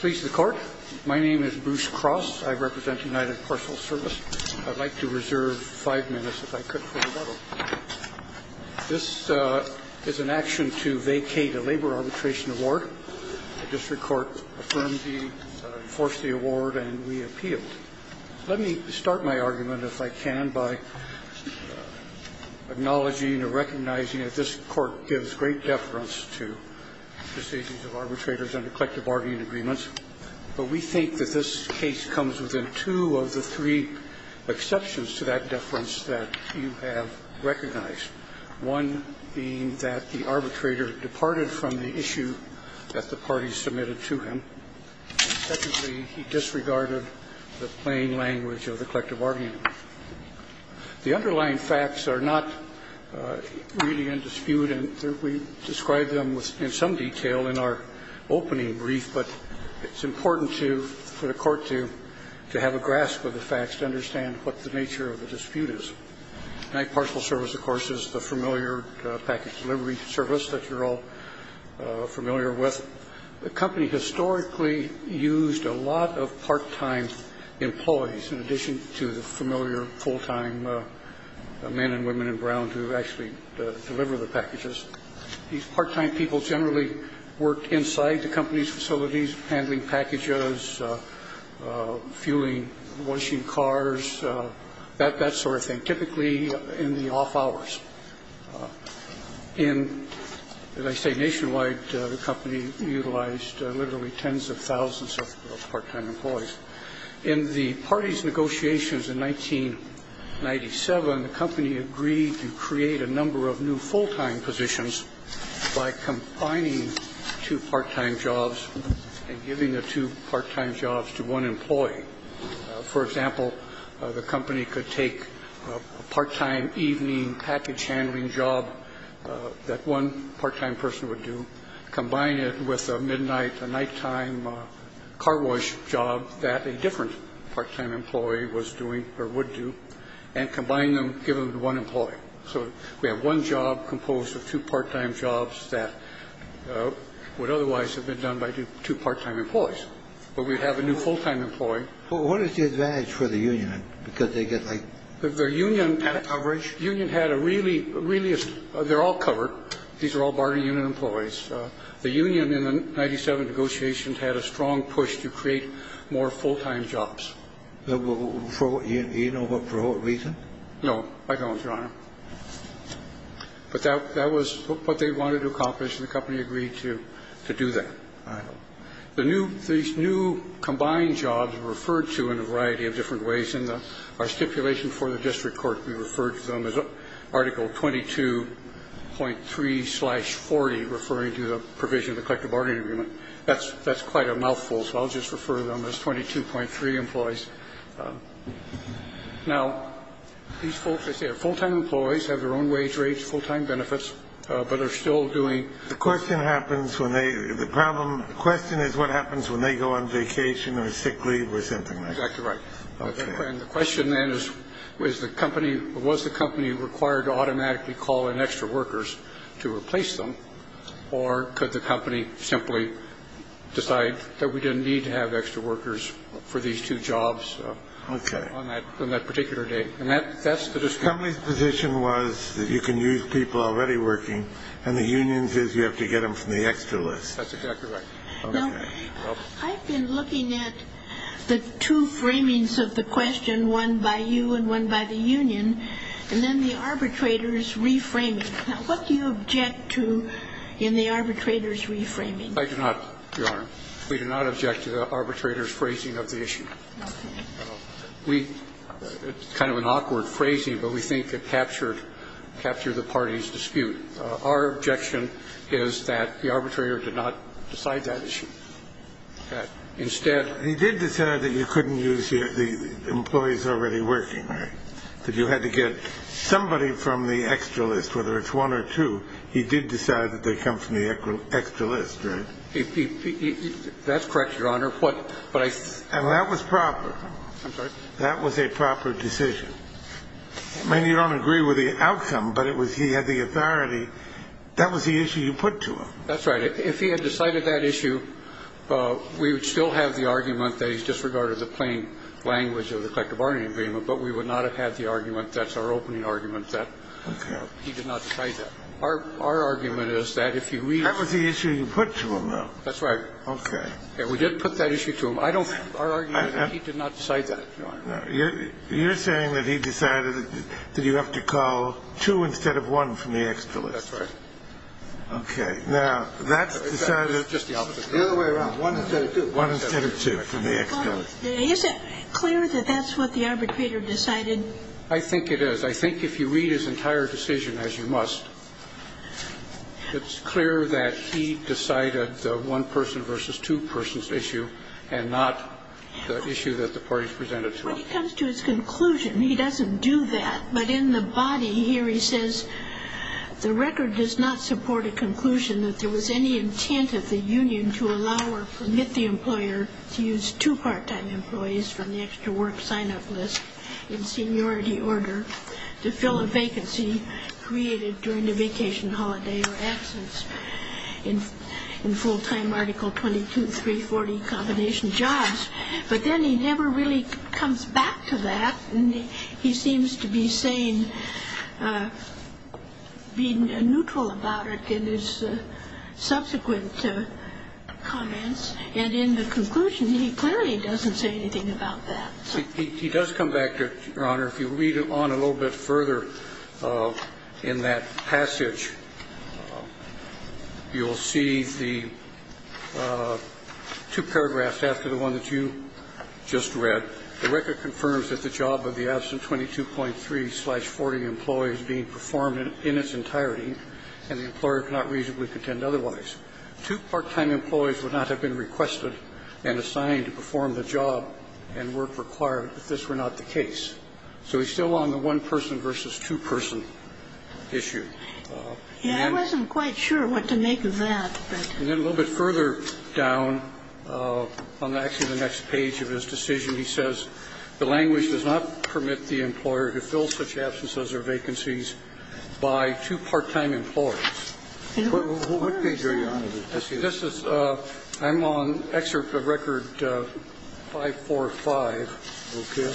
Please the court. My name is Bruce Cross. I represent United Parcel Service. I'd like to reserve five minutes if I could. This is an action to vacate a labor arbitration award. The district court affirmed the force the award and we appealed. Let me start my argument, if I can, by acknowledging or recognizing that this court gives great deference to decisions of arbitrators under collective bargaining agreements. But we think that this case comes within two of the three exceptions to that deference that you have recognized, one being that the arbitrator departed from the issue that the parties submitted to him. And secondly, he disregarded the plain language of the collective bargaining agreement. The underlying facts are not really in dispute, and we described them in some detail in our opening brief. But it's important to the court to have a grasp of the facts, to understand what the nature of the dispute is. United Parcel Service, of course, is the familiar package delivery service that you're all familiar with. The company historically used a lot of part-time employees, in addition to the familiar full-time men and women in brown who actually deliver the packages. These part-time people generally worked inside the company's facilities, handling packages, fueling, washing cars, that sort of thing, typically in the off hours. In, as I say, nationwide, the company utilized literally tens of thousands of part-time employees. In the parties' negotiations in 1997, the company agreed to create a number of new full-time positions by combining two part-time jobs and giving the two part-time jobs to one employee. For example, the company could take a part-time evening package handling job that one part-time person would do, combine it with a midnight, a nighttime car wash job that a different part-time employee was doing or would do, and combine them, give them to one employee. So we have one job composed of two part-time jobs that would otherwise have been done by two part-time employees. But we have a new full-time employee. But what is the advantage for the union? Because they get, like, coverage? The union had a really, really, they're all covered. These are all bargaining unit employees. The union in the 1997 negotiations had a strong push to create more full-time jobs. Do you know for what reason? No, I don't, Your Honor. But that was what they wanted to accomplish, and the company agreed to do that. All right. These new combined jobs were referred to in a variety of different ways. In our stipulation for the district court, we referred to them as Article 22.3-40, referring to the provision of the collective bargaining agreement. That's quite a mouthful, so I'll just refer to them as 22.3 employees. Now, these folks, as I say, are full-time employees, have their own wage rates, full-time benefits, but they're still doing the work. The question is what happens when they go on vacation or sick leave or something like that. Exactly right. And the question then is, was the company required to automatically call in extra workers to replace them, or could the company simply decide that we didn't need to have extra workers for these two jobs on that particular day? And that's the district court. The company's position was that you can use people already working, and the union's is you have to get them from the extra list. That's exactly right. Well, I've been looking at the two framings of the question, one by you and one by the union, and then the arbitrator's reframing. Now, what do you object to in the arbitrator's reframing? I do not, Your Honor. We do not object to the arbitrator's phrasing of the issue. It's kind of an awkward phrasing, but we think it captured the party's dispute. Our objection is that the arbitrator did not decide that issue. Instead he did decide that you couldn't use the employees already working, right, that you had to get somebody from the extra list, whether it's one or two. He did decide that they come from the extra list, right? That's correct, Your Honor. And that was proper. I'm sorry? That was a proper decision. I mean, you don't agree with the outcome, but it was he had the authority. That was the issue you put to him. That's right. If he had decided that issue, we would still have the argument that he disregarded the plain language of the collective bargaining agreement, but we would not have had the argument, that's our opening argument, that he did not decide that. Our argument is that if you read the issue you put to him, though. That's right. Okay. We did put that issue to him. I don't think our argument is that he did not decide that, Your Honor. You're saying that he decided that you have to call two instead of one from the extra list. That's right. Okay. Now, that's decided. The other way around. One instead of two. One instead of two from the extra list. Is it clear that that's what the arbitrator decided? I think it is. I think if you read his entire decision, as you must, it's clear that he decided the one-person versus two-persons issue and not the issue that the parties presented When it comes to his conclusion, he doesn't do that. But in the body here he says, The record does not support a conclusion that there was any intent of the union to allow or permit the employer to use two part-time employees from the extra work sign-up list in seniority order to fill a vacancy created during the vacation, holiday, or absence in full-time Article 22-340 combination jobs. But then he never really comes back to that. And he seems to be saying, being neutral about it in his subsequent comments. And in the conclusion, he clearly doesn't say anything about that. He does come back to it, Your Honor. If you read on a little bit further in that passage, you'll see the two paragraphs after the one that you just read. The record confirms that the job of the absent 22.3-40 employee is being performed in its entirety, and the employer cannot reasonably contend otherwise. Two part-time employees would not have been requested and assigned to perform the job and work required if this were not the case. So he's still on the one-person versus two-person issue. And then he says, I wasn't quite sure what to make of that. And then a little bit further down on actually the next page of his decision, he says, the language does not permit the employer to fill such absences or vacancies by two part-time employers. What page are you on? I'm on Excerpt of Record 545. Okay.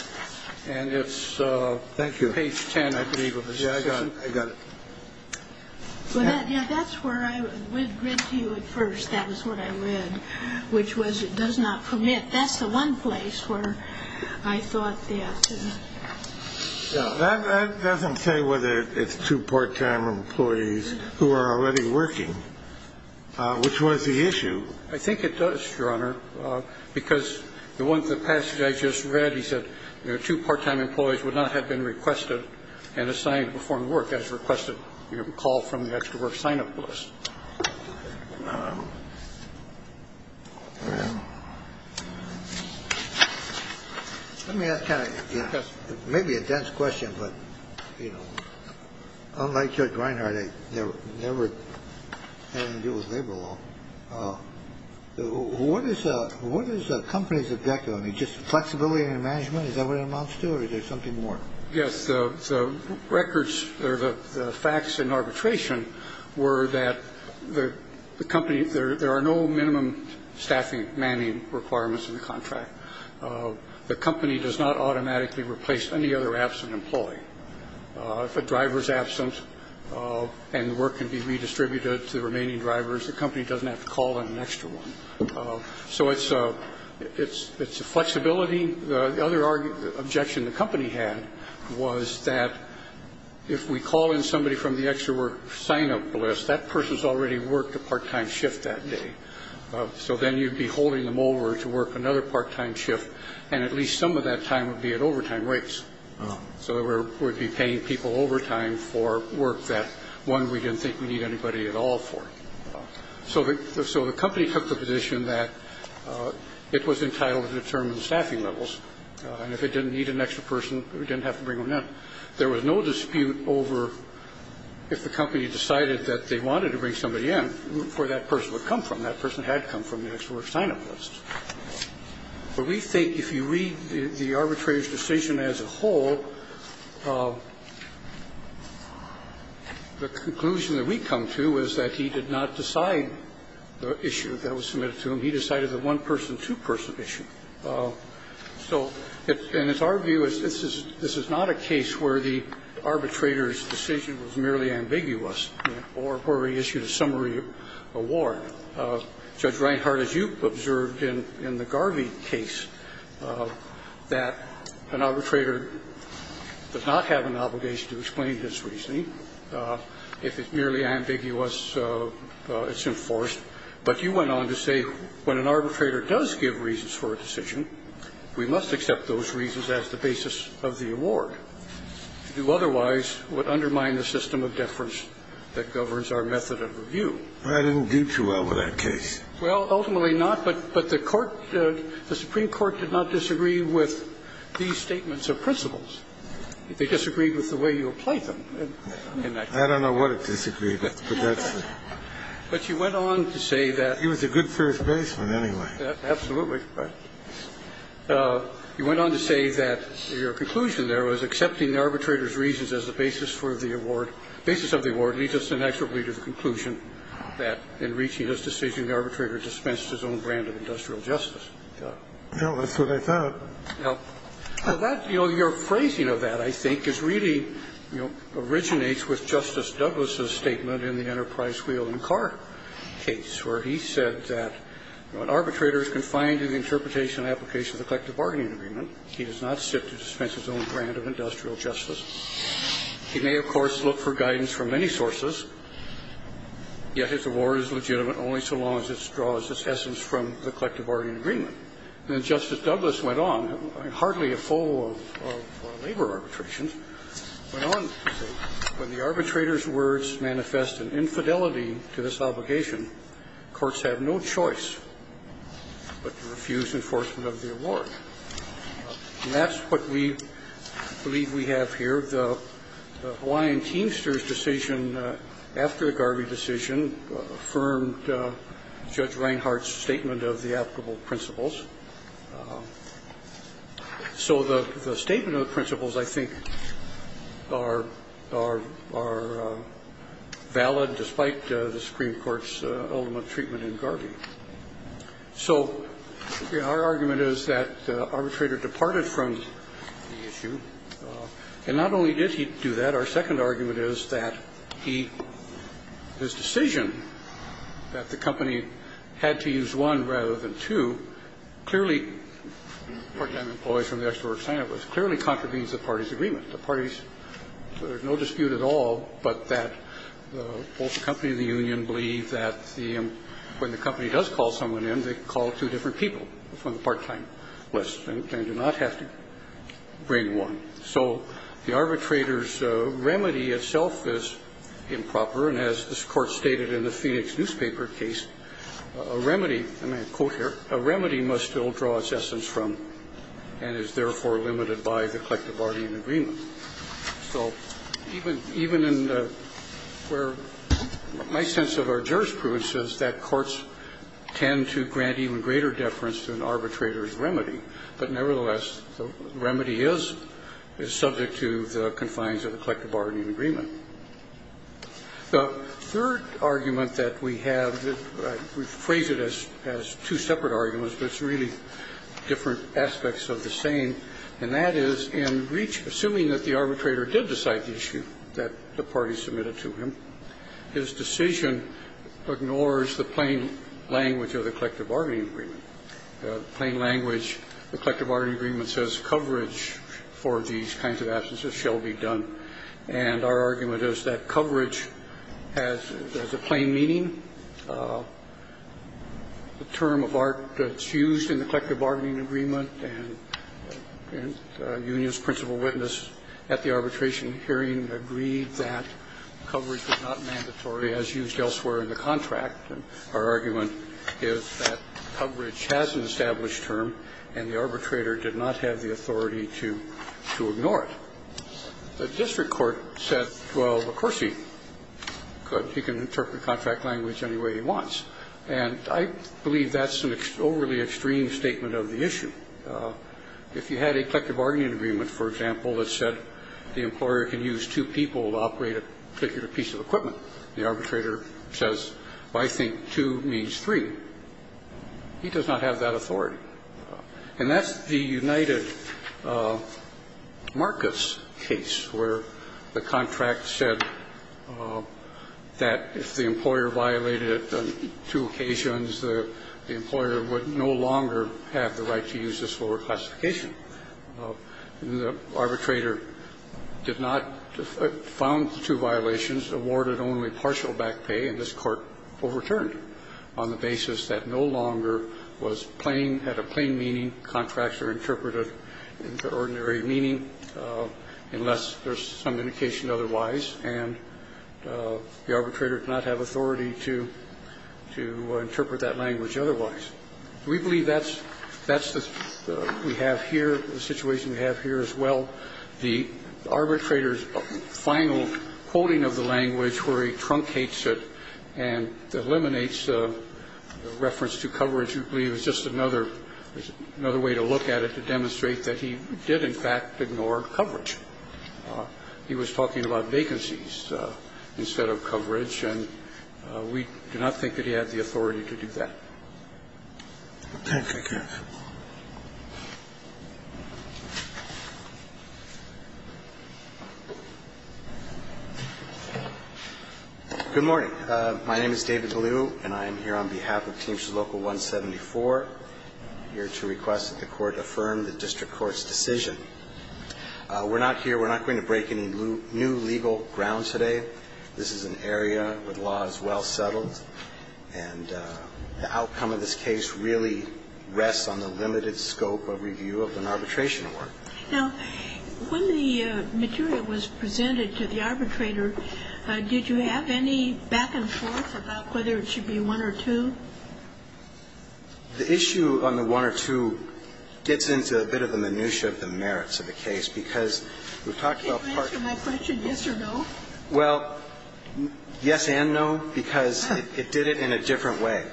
And it's page 10, I believe, of his decision. Yeah, I got it. Yeah, that's where I read to you at first. That was what I read, which was it does not permit. That's the one place where I thought that. That doesn't say whether it's two part-time employees who are already working, which was the issue. I think it does, Your Honor, because the passage I just read, he said, two part-time employees would not have been requested and assigned to perform the work as requested. You have a call from the extra work sign up list. Let me ask maybe a dense question, but, you know, unlike Judge Reinhardt, I never had anything to do with labor law. What is a company's objective? I mean, just flexibility and management. Is that what it amounts to? Or is there something more? Yes. The records or the facts in arbitration were that the company, there are no minimum staffing manning requirements in the contract. The company does not automatically replace any other absent employee. If a driver is absent and the work can be redistributed to the remaining drivers, the company doesn't have to call in an extra one. So it's a flexibility. The other objection the company had was that if we call in somebody from the extra work sign up list, that person's already worked a part-time shift that day. So then you'd be holding them over to work another part-time shift, and at least some of that time would be at overtime rates. So we'd be paying people overtime for work that, one, we didn't think we'd need anybody at all for. So the company took the position that it was entitled to determine staffing levels, and if it didn't need an extra person, it didn't have to bring one in. There was no dispute over if the company decided that they wanted to bring somebody in, where that person would come from. That person had come from the extra work sign up list. But we think if you read the arbitrator's decision as a whole, the conclusion that we come to is that he did not decide the issue that was submitted to him. He decided the one-person, two-person issue. And it's our view is this is not a case where the arbitrator's decision was merely ambiguous or where he issued a summary award. Judge Reinhart, as you observed in the Garvey case, that an arbitrator does not have an obligation to explain his reasoning. If it's merely ambiguous, it's enforced. But you went on to say when an arbitrator does give reasons for a decision, we must accept those reasons as the basis of the award. You otherwise would undermine the system of deference that governs our method of review. I didn't do too well with that case. Well, ultimately not. But the Court, the Supreme Court did not disagree with these statements of principles. They disagreed with the way you applied them in that case. I don't know what it disagreed with, but that's the point. But you went on to say that. He was a good first baseman anyway. Absolutely. But you went on to say that your conclusion there was accepting the arbitrator's reasons as the basis for the award, basis of the award, leads us inexorably to the conclusion that in reaching his decision, the arbitrator dispensed his own brand of industrial justice. No, that's what I thought. Now, that, you know, your phrasing of that, I think, is really, you know, originates with Justice Douglas' statement in the Enterprise Wheel and Car case, where he said that when an arbitrator is confined to the interpretation and application of the collective bargaining agreement, he does not sit to dispense his own brand of industrial justice. He may, of course, look for guidance from many sources, yet his award is legitimate only so long as it draws its essence from the collective bargaining agreement. And then Justice Douglas went on, in hardly a full of labor arbitrations, went on to say when the arbitrator's words manifest an infidelity to this obligation, courts have no choice but to refuse enforcement of the award. And that's what we believe we have here. The Hawaiian Teamsters decision, after the Garvey decision, affirmed Judge Reinhart's statement of the applicable principles. So the statement of the principles, I think, are valid, So, you know, our argument is that the arbitrator departed from the issue. And not only did he do that, our second argument is that he, his decision that the company had to use one rather than two, clearly, part-time employees from the extraordinary sign-up was clearly contravenes the party's agreement. The party's, there's no dispute at all, but that both the company and the union believe that the, when the company does call someone in, they call two different people from the part-time list. They do not have to bring one. So the arbitrator's remedy itself is improper. And as this Court stated in the Phoenix newspaper case, a remedy, and I quote here, a remedy must still draw its essence from, and is therefore limited by, the collective bargaining agreement. So even in the, where my sense of our jurisprudence is that courts tend to grant even greater deference to an arbitrator's remedy. But nevertheless, the remedy is, is subject to the confines of the collective bargaining agreement. The third argument that we have, we've phrased it as two separate arguments, but it's really different aspects of the same. And that is, in assuming that the arbitrator did decide the issue that the party submitted to him, his decision ignores the plain language of the collective bargaining agreement. The plain language, the collective bargaining agreement says coverage for these kinds of absences shall be done. And our argument is that coverage has a plain meaning. The term of art that's used in the collective bargaining agreement and union's principal witness at the arbitration hearing agreed that coverage was not mandatory as used elsewhere in the contract. And our argument is that coverage has an established term and the arbitrator did not have the authority to, to ignore it. The district court said, well, of course he could. He can interpret contract language any way he wants. And I believe that's an overly extreme statement of the issue. If you had a collective bargaining agreement, for example, that said the employer can use two people to operate a particular piece of equipment, the arbitrator says, well, I think two means three. He does not have that authority. And that's the United Marcus case where the contract said that if the employer violated it on two occasions, the employer would no longer have the right to use this for classification. The arbitrator did not found the two violations, awarded only partial back pay, and this Court overturned on the basis that no longer was plain, had a plain meaning. Contracts are interpreted into ordinary meaning unless there's some indication otherwise, and the arbitrator did not have authority to, to interpret that language otherwise. We believe that's, that's the, we have here, the situation we have here as well. The arbitrator's final quoting of the language where he truncates it and eliminates the reference to coverage, we believe is just another, another way to look at it to demonstrate that he did in fact ignore coverage. He was talking about vacancies instead of coverage, and we do not think that he had the authority to do that. Thank you. Good morning. My name is David DeLue, and I am here on behalf of Teamsters Local 174, here to request that the Court affirm the District Court's decision. We're not here, we're not going to break any new legal ground today. This is an area where the law is well settled, and the outcome of this case really rests on the limited scope of review of an arbitration award. Now, when the material was presented to the arbitrator, did you have any back and forth about whether it should be one or two? The issue on the one or two gets into a bit of the minutia of the merits of the case because we've talked about part of the case. Can you answer my question yes or no? Well, yes and no, because it did it in a different way.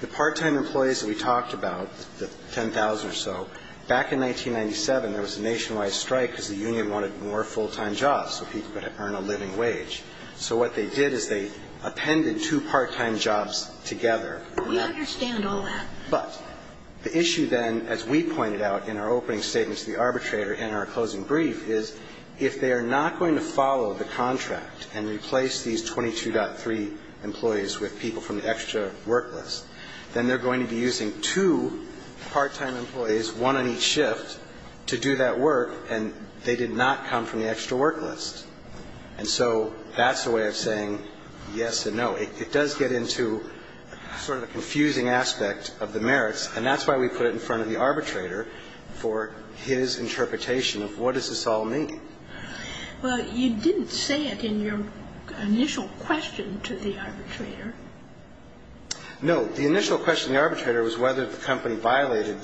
The part-time employees that we talked about, the 10,000 or so, back in 1997 there was a nationwide strike because the union wanted more full-time jobs so people could earn a living wage. So what they did is they appended two part-time jobs together. We understand all that. But the issue then, as we pointed out in our opening statement to the arbitrator in our closing brief, is if they are not going to follow the contract and replace these 22.3 employees with people from the extra work list, then they're going to be using two part-time employees, one on each shift, to do that work, and they did not come from the extra work list. And so that's the way of saying yes and no. It does get into sort of the confusing aspect of the merits, and that's why we put it in front of the arbitrator for his interpretation of what does this all mean. Well, you didn't say it in your initial question to the arbitrator. No. The initial question to the arbitrator was whether the company violated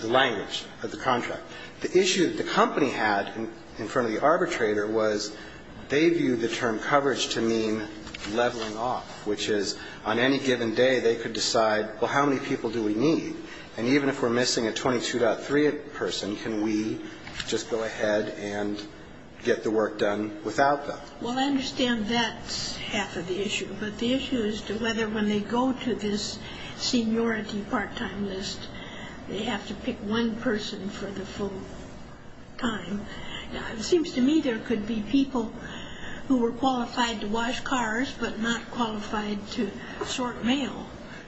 the language of the contract. The issue that the company had in front of the arbitrator was they viewed the term coverage to mean leveling off, which is on any given day they could decide, well, how many people do we need? And even if we're missing a 22.3 person, can we just go ahead and get the work done without them? Well, I understand that's half of the issue. But the issue is to whether when they go to this seniority part-time list, they have to pick one person for the full time. It seems to me there could be people who were qualified to wash cars but not qualified to sort mail.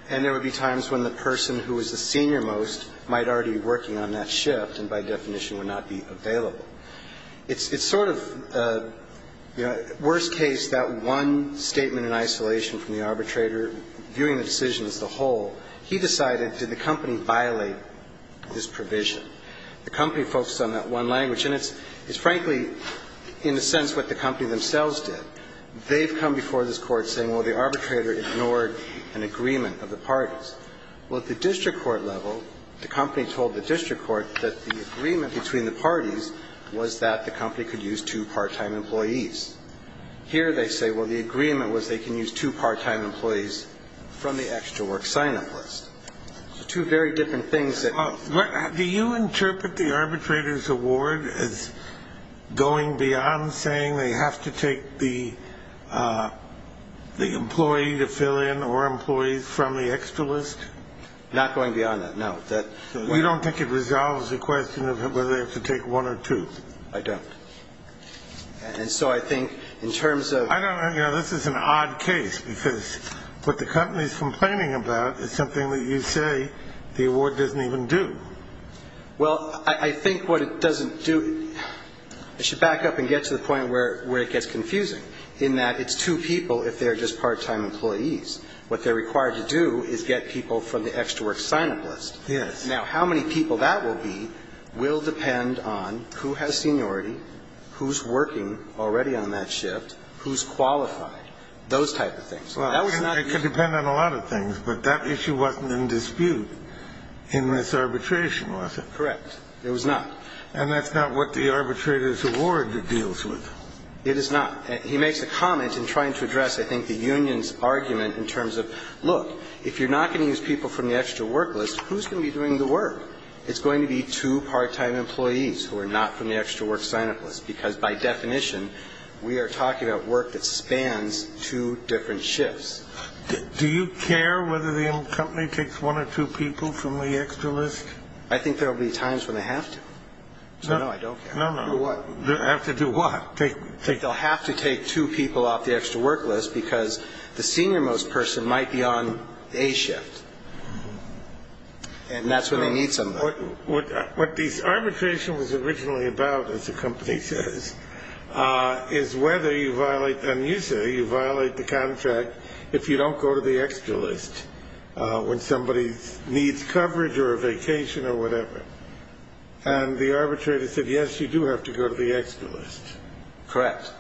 And there would be times when the person who was the senior most might already be working on that shift and by definition would not be available. It's sort of, you know, worst case, that one statement in isolation from the arbitrator viewing the decision as the whole, he decided, did the company violate this provision? The company focused on that one language. And it's frankly, in a sense, what the company themselves did. They've come before this court saying, well, the arbitrator ignored an agreement of the parties. Well, at the district court level, the company told the district court that the agreement between the parties was that the company could use two part-time employees. Here they say, well, the agreement was they can use two part-time employees from the extra work sign-up list. Two very different things that ---- And do you interpret the arbitrator's award as going beyond saying they have to take the employee to fill in or employees from the extra list? Not going beyond that, no. You don't think it resolves the question of whether they have to take one or two? I don't. And so I think in terms of ---- I don't know, you know, this is an odd case because what the company is complaining about is something that you say the award doesn't even do. Well, I think what it doesn't do ---- I should back up and get to the point where it gets confusing in that it's two people if they're just part-time employees. What they're required to do is get people from the extra work sign-up list. Yes. Now, how many people that will be will depend on who has seniority, who's working already on that shift, who's qualified, those type of things. Well, it could depend on a lot of things, but that issue wasn't in dispute in this arbitration, was it? Correct. It was not. And that's not what the arbitrator's award deals with. It is not. He makes a comment in trying to address, I think, the union's argument in terms of, look, if you're not going to use people from the extra work list, who's going to be doing the work? Because by definition, we are talking about work that spans two different shifts. Do you care whether the company takes one or two people from the extra list? I think there will be times when they have to. So, no, I don't care. No, no. What? They'll have to do what? They'll have to take two people off the extra work list because the senior-most person might be on a shift, and that's when they need somebody. What this arbitration was originally about, as the company says, is whether you violate, and you say you violate the contract, if you don't go to the extra list when somebody needs coverage or a vacation or whatever. And the arbitrator said, yes, you do have to go to the extra list. Correct.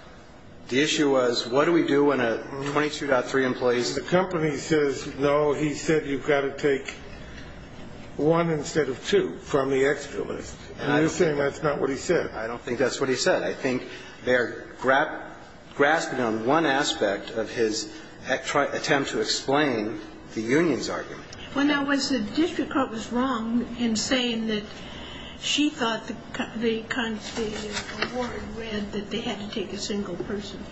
The issue was, what do we do when a 22.3 employees? The company says, no, he said you've got to take one instead of two from the extra list. And you're saying that's not what he said. I don't think that's what he said. I think they're grasping on one aspect of his attempt to explain the union's argument. Well, now, was the district court was wrong in saying that she thought the award read that they had to take a single person?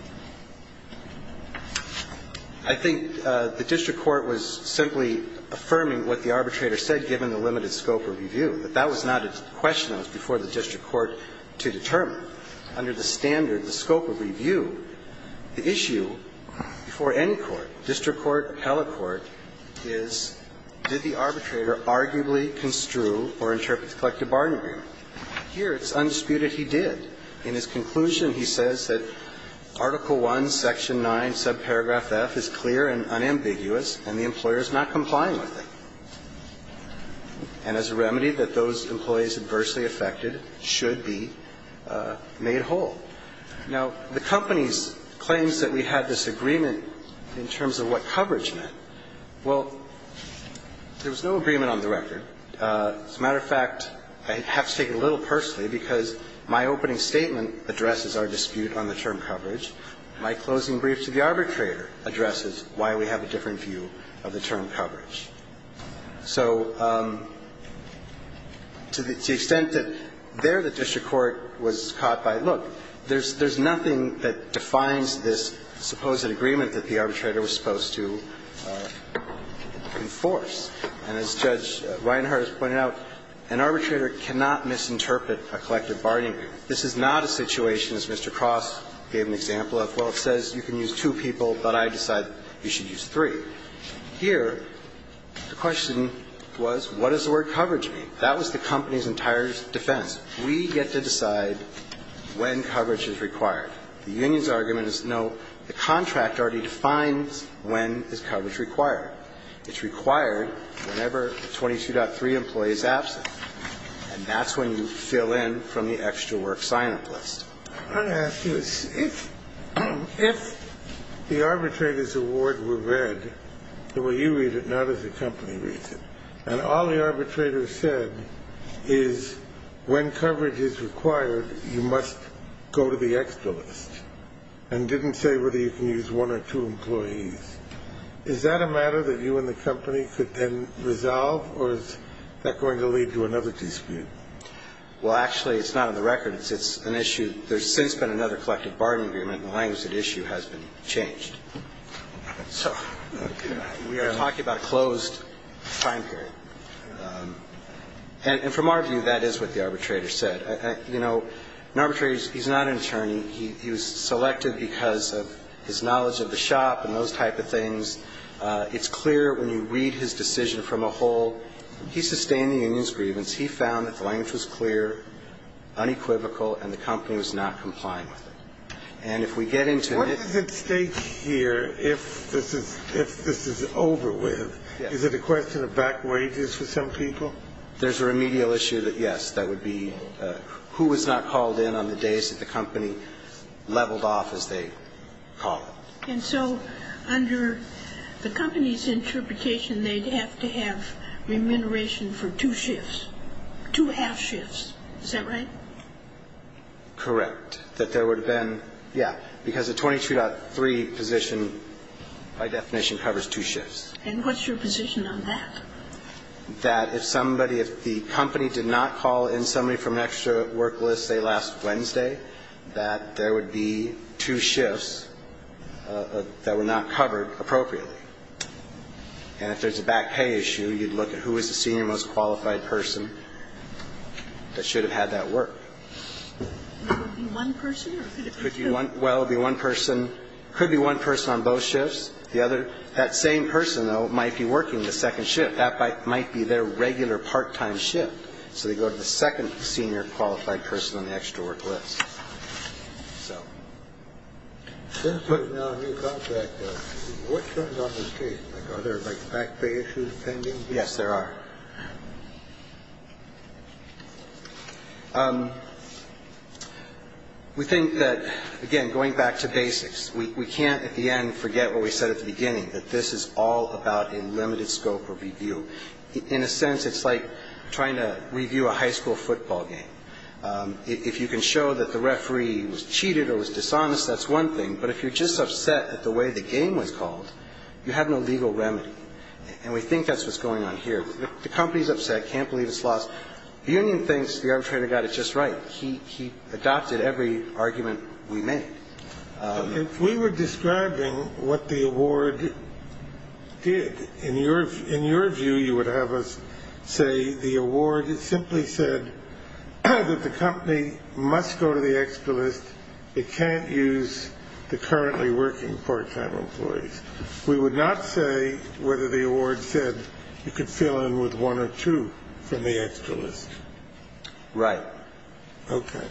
I think the district court was simply affirming what the arbitrator said, given the limited scope of review. But that was not a question that was before the district court to determine. Under the standard, the scope of review, the issue before any court, district court, appellate court, is did the arbitrator arguably construe or interpret the collective bargaining agreement? Here, it's undisputed he did. In his conclusion, he says that Article I, Section 9, subparagraph F is clear and unambiguous, and the employer is not complying with it. And as a remedy, that those employees adversely affected should be made whole. Now, the company's claims that we had this agreement in terms of what coverage meant, well, there was no agreement on the record. As a matter of fact, I have to take it a little personally, because my opening statement addresses our dispute on the term coverage. My closing brief to the arbitrator addresses why we have a different view of the term coverage. So to the extent that there the district court was caught by, look, there's nothing that defines this supposed agreement that the arbitrator was supposed to enforce. And as Judge Reinhardt has pointed out, an arbitrator cannot misinterpret a collective bargaining agreement. This is not a situation, as Mr. Cross gave an example of, well, it says you can use two people, but I decide you should use three. Here, the question was, what does the word coverage mean? That was the company's entire defense. We get to decide when coverage is required. The union's argument is, no, the contract already defines when is coverage required. It's required whenever a 22.3 employee is absent, and that's when you fill in from the extra work sign-up list. I want to ask you, if the arbitrator's award were read the way you read it, not as the company reads it, and all the arbitrator said is when coverage is required, you must go to the extra list, and didn't say whether you can use one or two employees, is that a matter that you and the company could then resolve, or is that going to lead to another dispute? Well, actually, it's not on the record. It's an issue. There's since been another collective bargaining agreement, and the language of the issue has been changed. So we are talking about a closed time period. And from our view, that is what the arbitrator said. You know, an arbitrator, he's not an attorney. He was selected because of his knowledge of the shop and those type of things. It's clear when you read his decision from a whole. He sustained the union's grievance. He found that the language was clear, unequivocal, and the company was not complying with it. And if we get into his ---- What does it state here if this is over with? Is it a question of back wages for some people? There's a remedial issue that, yes, that would be who was not called in on the days that the company leveled off, as they call it. And so under the company's interpretation, they'd have to have remuneration for two shifts, two half shifts. Is that right? Correct. That there would have been, yeah, because the 22.3 position, by definition, covers two shifts. And what's your position on that? That if somebody, if the company did not call in somebody from an extra work list, let's say last Wednesday, that there would be two shifts that were not covered appropriately. And if there's a back pay issue, you'd look at who is the senior most qualified person that should have had that work. Would it be one person or could it be two? Well, it would be one person. It could be one person on both shifts. The other, that same person, though, might be working the second shift. That might be their regular part-time shift. So they go to the second senior qualified person on the extra work list. So. Since putting down a new contract, what turns on this case? Are there, like, back pay issues pending? Yes, there are. We think that, again, going back to basics, we can't, at the end, forget what we said at the beginning, that this is all about a limited scope or review. In a sense, it's like trying to review a high school football game. If you can show that the referee was cheated or was dishonest, that's one thing. But if you're just upset at the way the game was called, you have no legal remedy. And we think that's what's going on here. The company is upset, can't believe it's lost. The union thinks the arbitrator got it just right. He adopted every argument we made. If we were describing what the award did, in your view, you would have us say the award simply said that the company must go to the extra list. It can't use the currently working part-time employees. We would not say whether the award said you could fill in with one or two from the extra list. Right. Okay.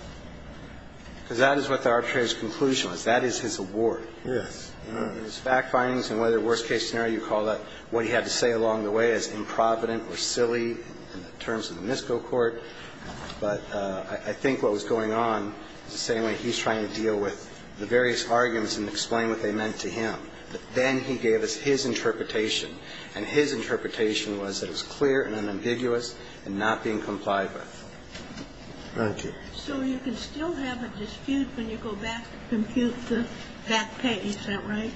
Because that is what the arbitrator's conclusion was. That is his award. Yes. His fact findings and whether, worst case scenario, you call that what he had to say along the way as improvident or silly in terms of the MISCO court. But I think what was going on is the same way he's trying to deal with the various arguments and explain what they meant to him. But then he gave us his interpretation, and his interpretation was that it was clear and unambiguous and not being complied with. Thank you. So you can still have a dispute when you go back to compute that pay. Is that right?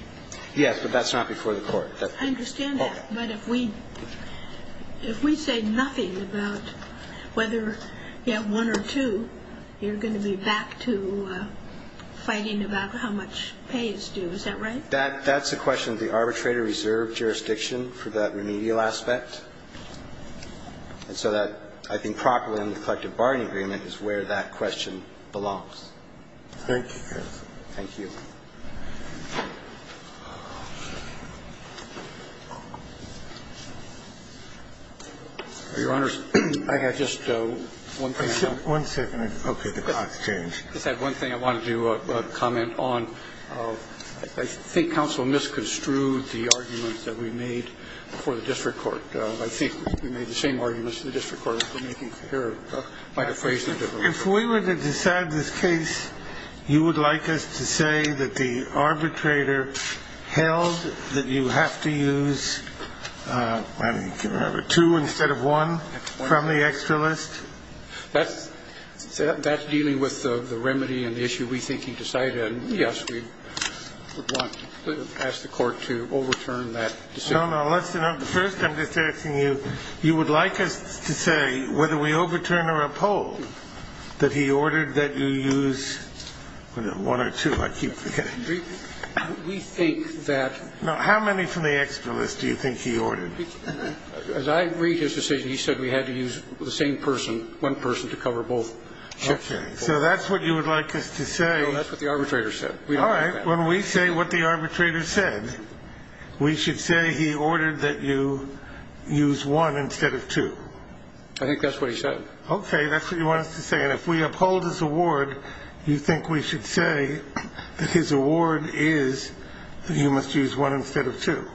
Yes, but that's not before the court. I understand that. But if we say nothing about whether you have one or two, you're going to be back to fighting about how much pay is due. Is that right? That's a question of the arbitrator-reserved jurisdiction for that remedial aspect. And so that, I think, properly in the collective bargaining agreement is where that question belongs. Thank you, counsel. Thank you. Your Honors, I have just one thing. One second. Okay. The clock's changed. I just have one thing I wanted to comment on. I think counsel misconstrued the arguments that we made before the district court. I think we made the same arguments in the district court as we're making here. If we were to decide this case, you would like us to say that the arbitrator held that you have to use two instead of one from the extra list? That's dealing with the remedy and the issue we think he decided. And, yes, we would want to ask the court to overturn that decision. No, no, listen. First, I'm just asking you, you would like us to say whether we overturn or uphold that he ordered that you use one or two? I keep forgetting. We think that. Now, how many from the extra list do you think he ordered? As I read his decision, he said we had to use the same person, one person, to cover both shifts. Okay. So that's what you would like us to say. No, that's what the arbitrator said. All right. When we say what the arbitrator said, we should say he ordered that you use one instead of two. I think that's what he said. Okay. That's what you want us to say. And if we uphold his award, you think we should say that his award is that you must use one instead of two?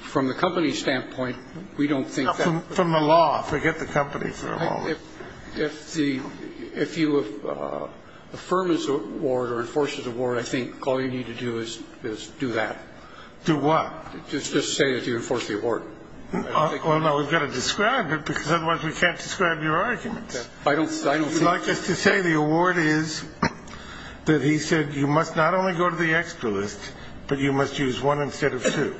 From the company's standpoint, we don't think that. From the law. Forget the company for a moment. If you affirm his award or enforce his award, I think all you need to do is do that. Do what? Just say that you enforce the award. Well, no. We've got to describe it, because otherwise we can't describe your arguments. I don't think. You'd like us to say the award is that he said you must not only go to the extra list, but you must use one instead of two.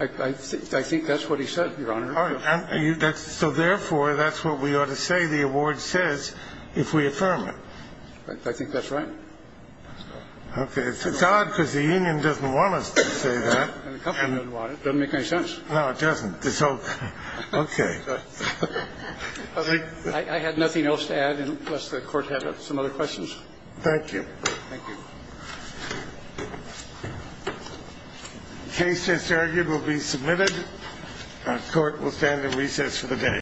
I think that's what he said, Your Honor. So, therefore, that's what we ought to say the award says if we affirm it. I think that's right. Okay. It's odd, because the union doesn't want us to say that. The company doesn't want it. It doesn't make any sense. No, it doesn't. Okay. I had nothing else to add, unless the Court had some other questions. Thank you. Thank you. The case, as argued, will be submitted. The Court will stand at recess for the day.